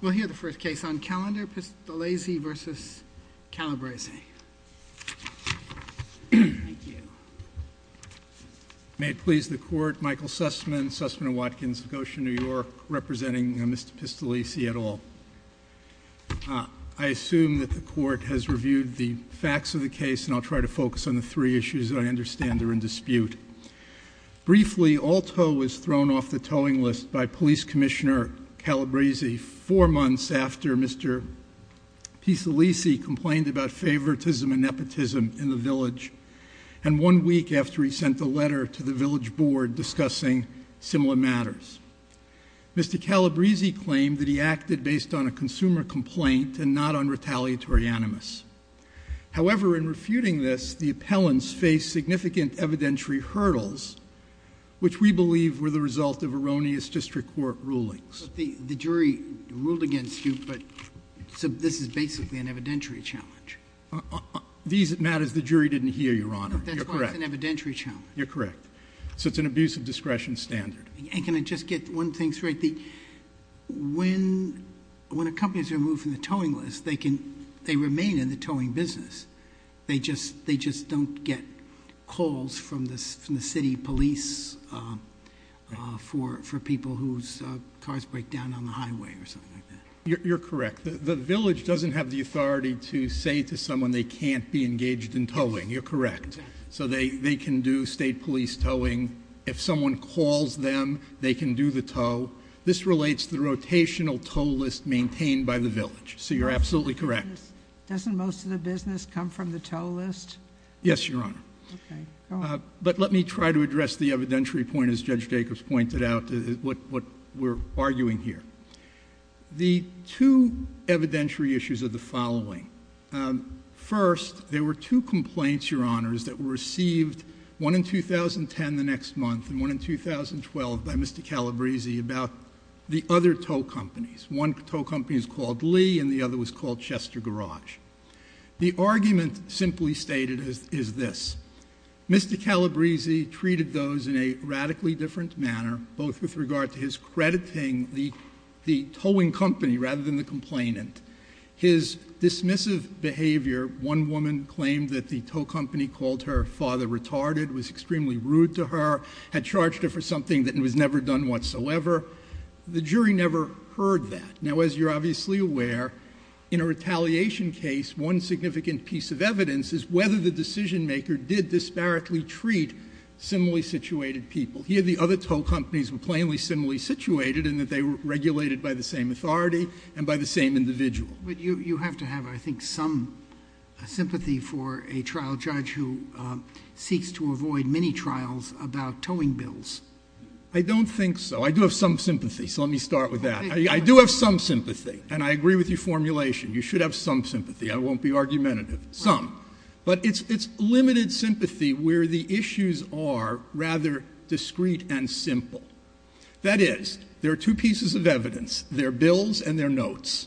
We'll hear the first case on calendar, Pistolesi v. Calabrese. Thank you. May it please the Court, Michael Sussman, Sussman & Watkins, New York, representing Mr. Pistolesi et al. I assume that the Court has reviewed the facts of the case, and I'll try to focus on the three issues that I understand are in dispute. Briefly, Alto was thrown off the towing list by Police Commissioner Calabrese four months after Mr. Pistolesi complained about favoritism and nepotism in the village, and one week after he sent a letter to the village board discussing similar matters. Mr. Calabrese claimed that he acted based on a consumer complaint and not on retaliatory animus. However, in refuting this, the appellants faced significant evidentiary hurdles, which we believe were the result of erroneous district court rulings. The jury ruled against you, but this is basically an evidentiary challenge. These matters the jury didn't hear, Your Honor. That's why it's an evidentiary challenge. You're correct. So it's an abuse of discretion standard. And can I just get one thing straight? When a company is removed from the towing list, they remain in the towing business. They just don't get calls from the city police for people whose cars break down on the highway or something like that. You're correct. The village doesn't have the authority to say to someone they can't be engaged in towing. You're correct. So they can do state police towing. If someone calls them, they can do the tow. This relates to the rotational tow list maintained by the village. So you're absolutely correct. Doesn't most of the business come from the tow list? Yes, Your Honor. Okay. Go on. But let me try to address the evidentiary point, as Judge Jacobs pointed out, what we're arguing here. The two evidentiary issues are the following. First, there were two complaints, Your Honors, that were received, one in 2010, the next month, and one in 2012 by Mr. Calabresi about the other tow companies. One tow company is called Lee and the other was called Chester Garage. The argument simply stated is this. Mr. Calabresi treated those in a radically different manner, both with regard to his crediting the towing company rather than the complainant. His dismissive behavior, one woman claimed that the tow company called her father retarded, was extremely rude to her, had charged her for something that was never done whatsoever. The jury never heard that. Now, as you're obviously aware, in a retaliation case, one significant piece of evidence is whether the decision maker did disparately treat similarly situated people. Here, the other tow companies were plainly similarly situated in that they were regulated by the same authority and by the same individual. But you have to have, I think, some sympathy for a trial judge who seeks to avoid many trials about towing bills. I don't think so. I do have some sympathy, so let me start with that. I do have some sympathy, and I agree with your formulation. You should have some sympathy. I won't be argumentative. Some. But it's limited sympathy where the issues are rather discreet and simple. That is, there are two pieces of evidence. They're bills and they're notes.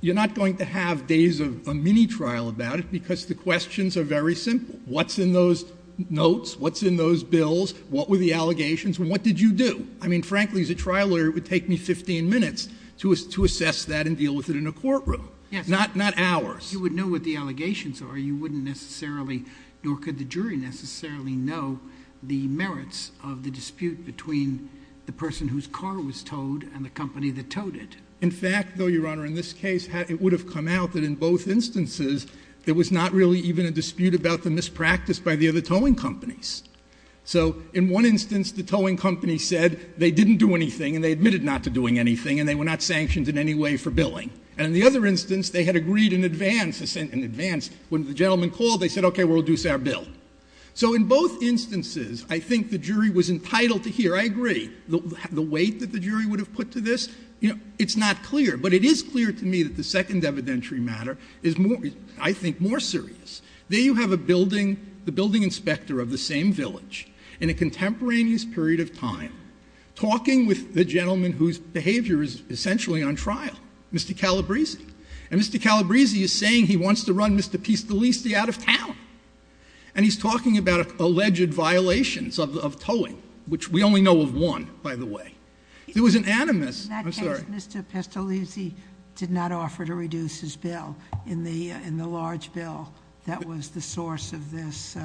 You're not going to have days of a mini trial about it because the questions are very simple. What's in those notes? What's in those bills? What were the allegations? And what did you do? I mean, frankly, as a trial lawyer, it would take me 15 minutes to assess that and deal with it in a courtroom. Not hours. If you would know what the allegations are, you wouldn't necessarily, nor could the jury necessarily, know the merits of the dispute between the person whose car was towed and the company that towed it. In fact, though, Your Honor, in this case, it would have come out that in both instances, there was not really even a dispute about the mispractice by the other towing companies. So in one instance, the towing company said they didn't do anything and they admitted not to doing anything And in the other instance, they had agreed in advance, when the gentleman called, they said, okay, we'll reduce our bill. So in both instances, I think the jury was entitled to hear, I agree, the weight that the jury would have put to this. It's not clear. But it is clear to me that the second evidentiary matter is, I think, more serious. There you have the building inspector of the same village in a contemporaneous period of time talking with the gentleman whose behavior is essentially on trial, Mr. Calabrese. And Mr. Calabrese is saying he wants to run Mr. Pistolisti out of town. And he's talking about alleged violations of towing, which we only know of one, by the way. It was an animus. I'm sorry. In that case, Mr. Pistolisti did not offer to reduce his bill in the large bill that was the source of this.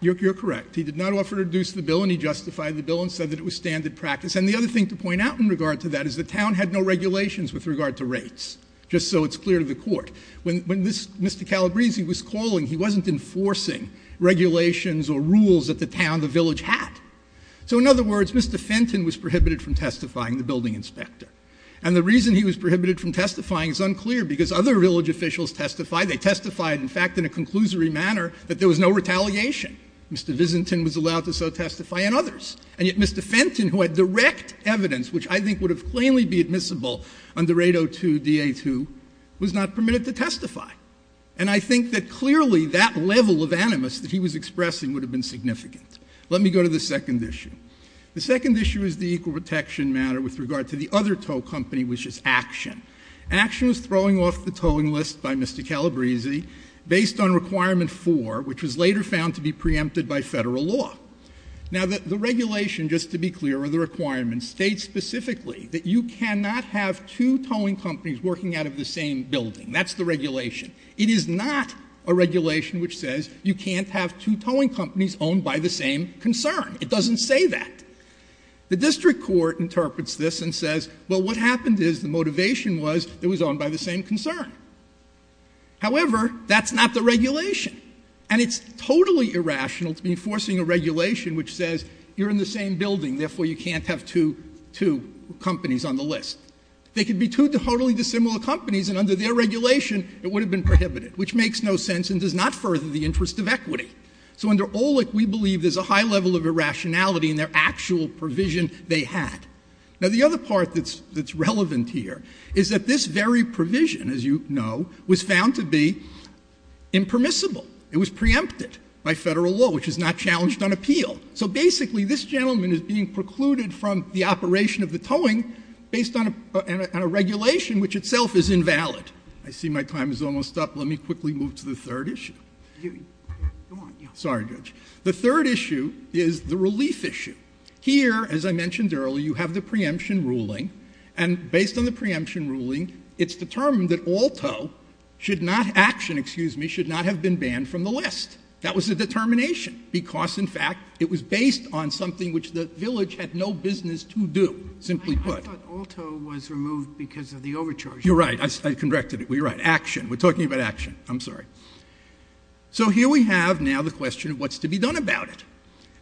You're correct. He did not offer to reduce the bill and he justified the bill and said that it was standard practice. And the other thing to point out in regard to that is the town had no regulations with regard to rates, just so it's clear to the court. When Mr. Calabrese was calling, he wasn't enforcing regulations or rules that the town, the village had. So in other words, Mr. Fenton was prohibited from testifying, the building inspector. And the reason he was prohibited from testifying is unclear, because other village officials testified. They testified, in fact, in a conclusory manner that there was no retaliation. Mr. Vizentin was allowed to so testify and others. And yet Mr. Fenton, who had direct evidence, which I think would have plainly be admissible under 802 DA2, was not permitted to testify. And I think that clearly that level of animus that he was expressing would have been significant. Let me go to the second issue. The second issue is the equal protection matter with regard to the other tow company, which is Action. Action was throwing off the towing list by Mr. Calabrese based on Requirement 4, which was later found to be preempted by Federal law. Now, the regulation, just to be clear, or the requirement, states specifically that you cannot have two towing companies working out of the same building. That's the regulation. It is not a regulation which says you can't have two towing companies owned by the same concern. It doesn't say that. The district court interprets this and says, well, what happened is the motivation was it was owned by the same concern. However, that's not the regulation. And it's totally irrational to be enforcing a regulation which says you're in the same building, therefore you can't have two companies on the list. They could be two totally dissimilar companies and under their regulation it would have been prohibited, which makes no sense and does not further the interest of equity. So under OLEC, we believe there's a high level of irrationality in their actual provision they had. Now, the other part that's relevant here is that this very provision, as you know, was found to be impermissible. It was preempted by federal law, which is not challenged on appeal. So basically, this gentleman is being precluded from the operation of the towing based on a regulation which itself is invalid. I see my time is almost up. Let me quickly move to the third issue. Sorry, Judge. The third issue is the relief issue. Here, as I mentioned earlier, you have the preemption ruling. And based on the preemption ruling, it's determined that Aalto should not action, excuse me, should not have been banned from the list. That was the determination because, in fact, it was based on something which the village had no business to do, simply put. I thought Aalto was removed because of the overcharging. You're right. I corrected it. You're right. Action. We're talking about action. I'm sorry. So here we have now the question of what's to be done about it.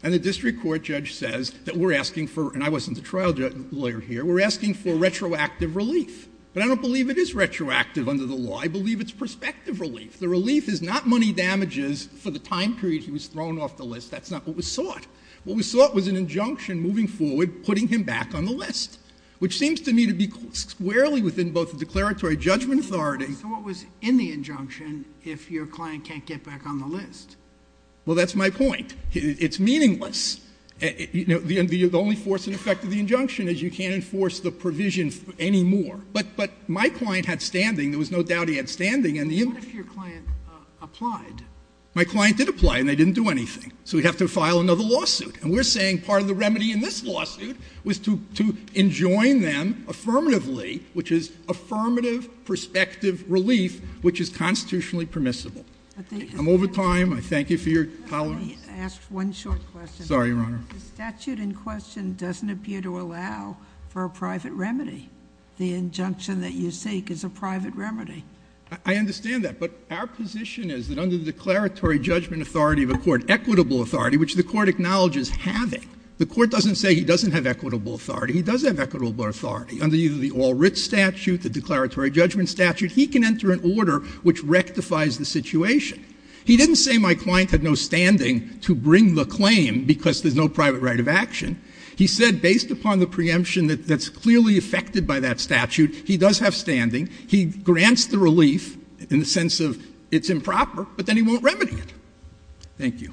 And the district court judge says that we're asking for, and I wasn't the trial lawyer here, we're asking for retroactive relief. But I don't believe it is retroactive under the law. I believe it's prospective relief. The relief is not money damages for the time period he was thrown off the list. That's not what was sought. What was sought was an injunction moving forward putting him back on the list, which seems to me to be squarely within both the declaratory judgment authority. So what was in the injunction if your client can't get back on the list? Well, that's my point. It's meaningless. The only force and effect of the injunction is you can't enforce the provision anymore. But my client had standing. There was no doubt he had standing. What if your client applied? My client did apply, and they didn't do anything. So we'd have to file another lawsuit. And we're saying part of the remedy in this lawsuit was to enjoin them affirmatively, which is affirmative prospective relief, which is constitutionally permissible. I'm over time. I thank you for your tolerance. Let me ask one short question. Sorry, Your Honor. The statute in question doesn't appear to allow for a private remedy. The injunction that you seek is a private remedy. I understand that. But our position is that under the declaratory judgment authority of a court, equitable authority, which the court acknowledges having, the court doesn't say he doesn't have equitable authority. He does have equitable authority. Under either the All-Writs statute, the declaratory judgment statute, he can enter an order which rectifies the situation. He didn't say my client had no standing to bring the claim because there's no private right of action. He said based upon the preemption that's clearly affected by that statute, he does have standing. He grants the relief in the sense of it's improper, but then he won't remedy it. Thank you.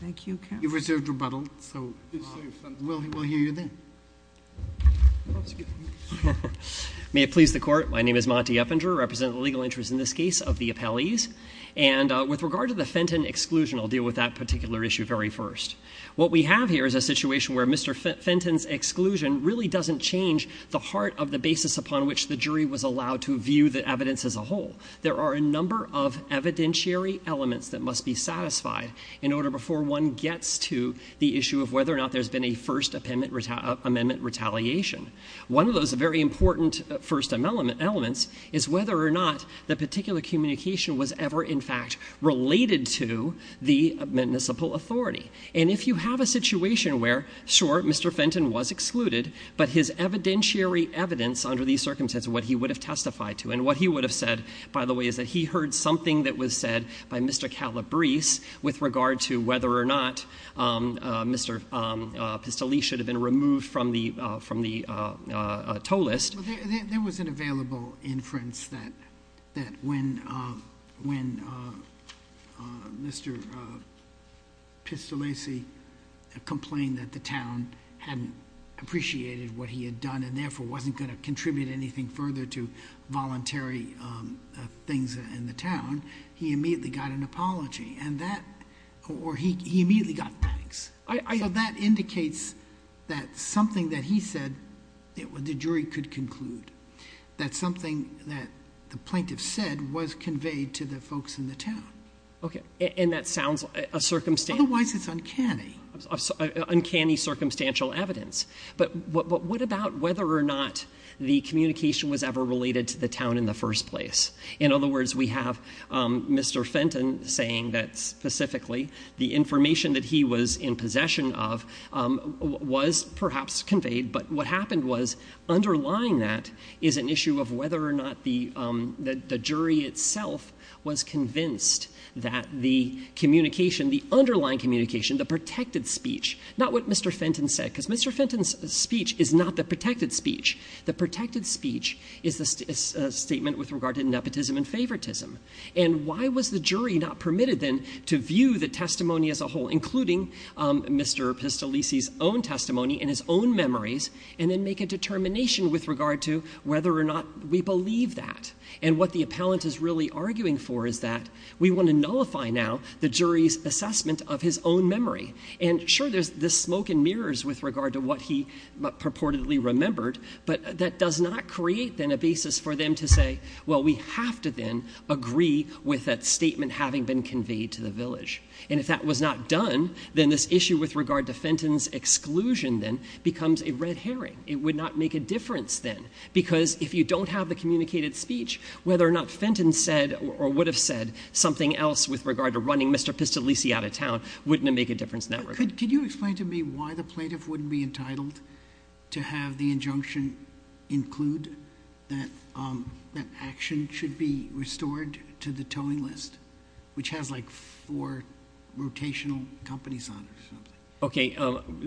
Thank you, counsel. You reserved rebuttal. So we'll hear you then. May it please the Court. My name is Monty Eppinger, representing the legal interests in this case of the appellees. And with regard to the Fenton exclusion, I'll deal with that particular issue very first. What we have here is a situation where Mr. Fenton's exclusion really doesn't change the heart of the basis upon which the jury was allowed to view the evidence as a whole. There are a number of evidentiary elements that must be satisfied in order before one gets to the issue of whether or not there's been a First Amendment retaliation. One of those very important First Amendment elements is whether or not the particular communication was ever in fact related to the municipal authority. And if you have a situation where, sure, Mr. Fenton was excluded, but his evidentiary evidence under these circumstances, what he would have testified to, and what he would have said, by the way, is that he heard something that was said by Mr. Calabrese with regard to whether or not Mr. Pistolese should have been removed from the toll list. There was an available inference that when Mr. Pistolese complained that the town hadn't appreciated what he had done and therefore wasn't going to contribute anything further to voluntary things in the town, he immediately got an apology. And that, or he immediately got pats. So that indicates that something that he said the jury could conclude, that something that the plaintiff said was conveyed to the folks in the town. Okay. And that sounds like a circumstance. Otherwise it's uncanny. Uncanny circumstantial evidence. But what about whether or not the communication was ever related to the town in the first place? In other words, we have Mr. Fenton saying that specifically the information that he was in possession of was perhaps conveyed, but what happened was underlying that is an issue of whether or not the jury itself was convinced that the communication, the underlying communication, the protected speech, not what Mr. Fenton said, because Mr. Fenton's speech is not the protected speech. The protected speech is a statement with regard to nepotism and favoritism. And why was the jury not permitted then to view the testimony as a whole, including Mr. Pistolese's own testimony and his own memories, and then make a determination with regard to whether or not we believe that? And what the appellant is really arguing for is that we want to nullify now the jury's assessment of his own memory. And sure, there's this smoke and mirrors with regard to what he purportedly remembered, but that does not create then a basis for them to say, well, we have to then agree with that statement having been conveyed to the village. And if that was not done, then this issue with regard to Fenton's exclusion then becomes a red herring. It would not make a difference then, because if you don't have the communicated speech, whether or not Fenton said or would have said something else with regard to running Mr. Pistolese out of town, wouldn't it make a difference in that regard? Could you explain to me why the plaintiff wouldn't be entitled to have the injunction include that action should be restored to the towing list, which has like four rotational companies on it or something? Okay.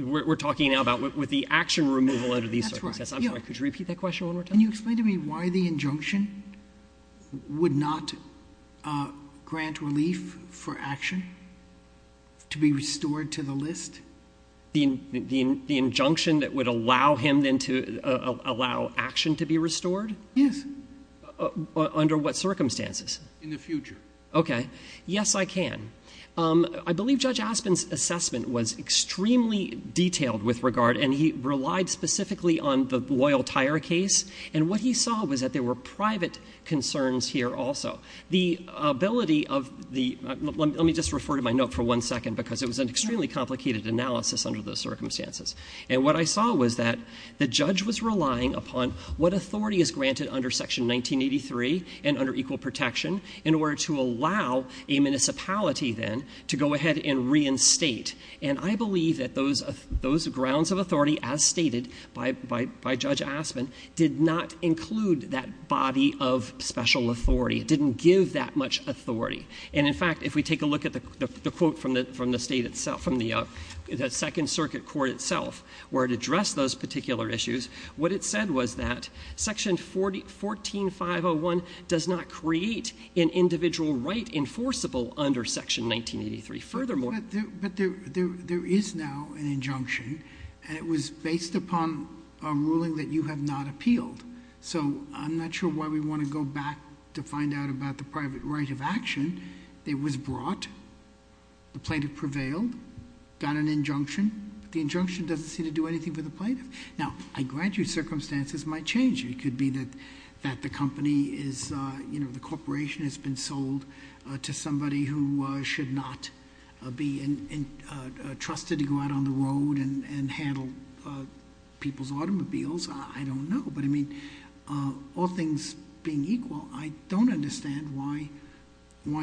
We're talking now about with the action removal under these circumstances. That's right. Could you repeat that question one more time? Can you explain to me why the injunction would not grant relief for action to be restored to the list? The injunction that would allow him then to allow action to be restored? Yes. Under what circumstances? In the future. Okay. Yes, I can. I believe Judge Aspin's assessment was extremely detailed with regard, and he relied specifically on the Loyal Tire case. And what he saw was that there were private concerns here also. The ability of the let me just refer to my note for one second, because it was an extremely complicated analysis under those circumstances. And what I saw was that the judge was relying upon what authority is granted under Section 1983 and under equal protection in order to allow a municipality then to go ahead and reinstate. And I believe that those grounds of authority, as stated by Judge Aspin, did not include that body of special authority. It didn't give that much authority. And, in fact, if we take a look at the quote from the State itself, from the Second Circuit Court itself, where it addressed those particular issues, what it said was that Section 14501 does not create an individual right enforceable under Section 1983. But there is now an injunction, and it was based upon a ruling that you have not appealed. So I'm not sure why we want to go back to find out about the private right of action. It was brought. The plaintiff prevailed, got an injunction. The injunction doesn't seem to do anything for the plaintiff. Now, I grant you circumstances might change. It could be that the company is, you know, the corporation has been sold to somebody who should not be trusted to go out on the road and handle people's automobiles. I don't know. But, I mean, all things being equal, I don't understand why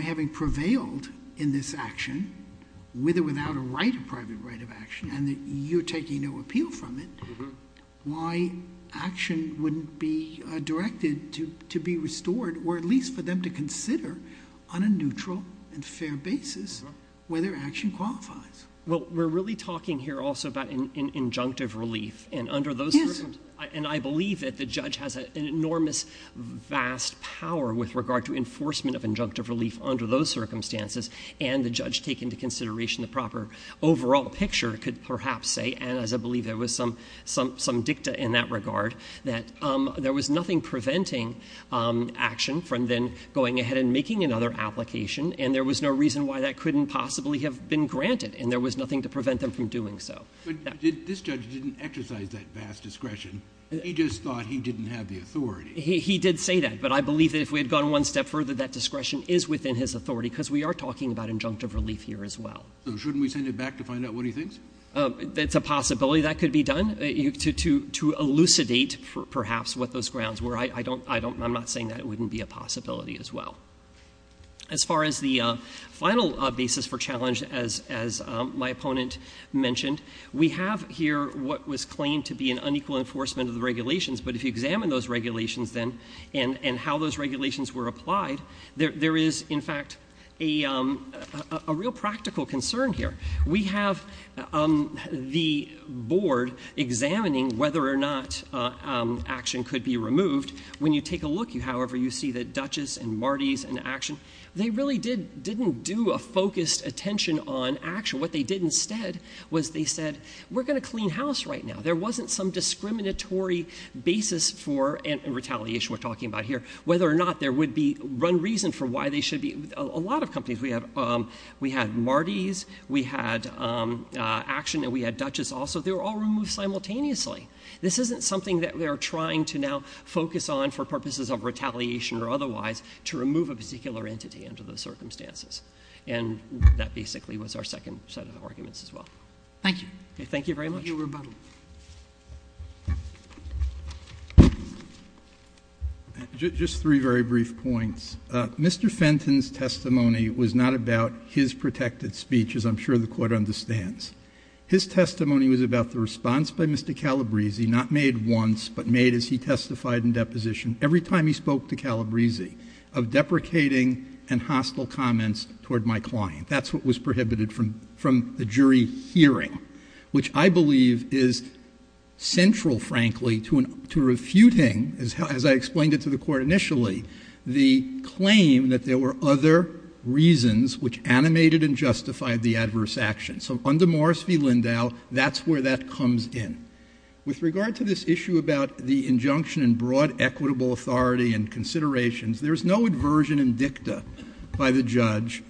having prevailed in this action with or without a right, a private right of action, and that you're taking no appeal from it, why action wouldn't be directed to be restored or at least for them to consider on a neutral and fair basis whether action qualifies. Well, we're really talking here also about an injunctive relief. Yes. And I believe that the judge has an enormous, vast power with regard to enforcement of injunctive relief under those circumstances. And the judge take into consideration the proper overall picture could perhaps say, and as I believe there was some dicta in that regard, that there was nothing preventing action from then going ahead and making another application. And there was no reason why that couldn't possibly have been granted. And there was nothing to prevent them from doing so. But this judge didn't exercise that vast discretion. He just thought he didn't have the authority. He did say that. But I believe that if we had gone one step further, that discretion is within his authority because we are talking about injunctive relief here as well. So shouldn't we send it back to find out what he thinks? It's a possibility that could be done to elucidate perhaps what those grounds were. I'm not saying that it wouldn't be a possibility as well. As far as the final basis for challenge, as my opponent mentioned, we have here what was claimed to be an unequal enforcement of the regulations. But if you examine those regulations then and how those regulations were applied, there is, in fact, a real practical concern here. We have the board examining whether or not action could be removed. When you take a look, however, you see that Dutchess and Marty's and Action, they really didn't do a focused attention on action. What they did instead was they said, we're going to clean house right now. There wasn't some discriminatory basis for retaliation we're talking about here, whether or not there would be reason for why they should be. A lot of companies, we had Marty's, we had Action, and we had Dutchess also. They were all removed simultaneously. This isn't something that we are trying to now focus on for purposes of retaliation or otherwise to remove a particular entity under those circumstances. And that basically was our second set of arguments as well. Thank you. Thank you very much. Thank you, Your Rebuttal. Just three very brief points. Mr. Fenton's testimony was not about his protected speech, as I'm sure the Court understands. His testimony was about the response by Mr. Calabresi, not made once, but made as he testified in deposition, every time he spoke to Calabresi, of deprecating and hostile comments toward my client. That's what was prohibited from the jury hearing, which I believe is central, frankly, to refuting, as I explained it to the Court initially, the claim that there were other reasons which animated and justified the adverse action. So under Morris v. Lindau, that's where that comes in. With regard to this issue about the injunction in broad equitable authority and considerations, there's no aversion in dicta by the judge,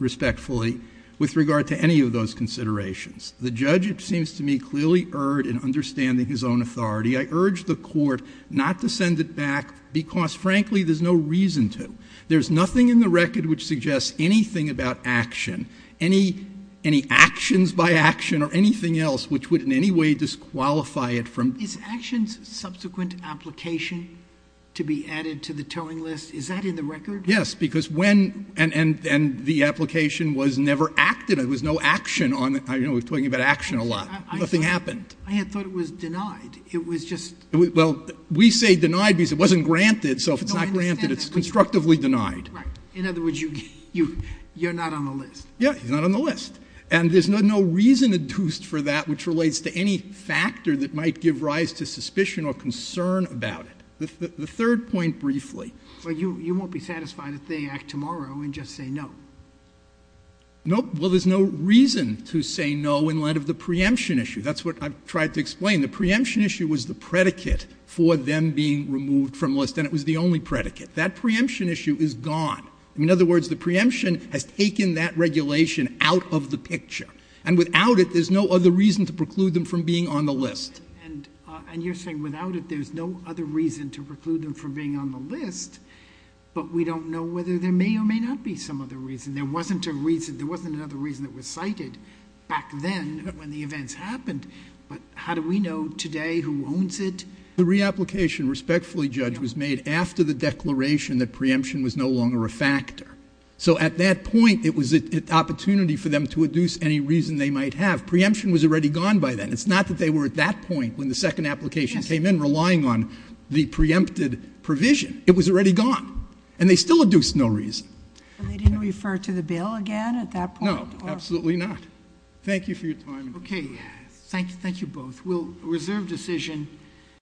respectfully, with regard to any of those considerations. The judge, it seems to me, clearly erred in understanding his own authority. I urge the Court not to send it back because, frankly, there's no reason to. There's nothing in the record which suggests anything about action, any actions by action or anything else which would in any way disqualify it from. Sotomayor, is actions subsequent application to be added to the towing list? Is that in the record? Yes, because when and the application was never acted. There was no action on it. I know we're talking about action a lot. Nothing happened. I had thought it was denied. It was just. Well, we say denied because it wasn't granted, so if it's not granted, it's constructively denied. Right. In other words, you're not on the list. Yeah, he's not on the list. And there's no reason adduced for that which relates to any factor that might give rise to suspicion or concern about it. The third point briefly. Well, you won't be satisfied if they act tomorrow and just say no. Nope. Well, there's no reason to say no in light of the preemption issue. That's what I've tried to explain. The preemption issue was the predicate for them being removed from the list, and it was the only predicate. That preemption issue is gone. In other words, the preemption has taken that regulation out of the picture, and without it, there's no other reason to preclude them from being on the list. And you're saying without it, there's no other reason to preclude them from being on the list, but we don't know whether there may or may not be some other reason. There wasn't a reason. There wasn't another reason that was cited back then when the events happened, but how do we know today who owns it? The reapplication, respectfully, Judge, was made after the declaration that preemption was no longer a factor. So at that point, it was an opportunity for them to adduce any reason they might have. Preemption was already gone by then. It's not that they were at that point when the second application came in relying on the preempted provision. It was already gone, and they still adduced no reason. They didn't refer to the bill again at that point? No, absolutely not. Thank you for your time. Okay. Thank you both. We'll reserve decision.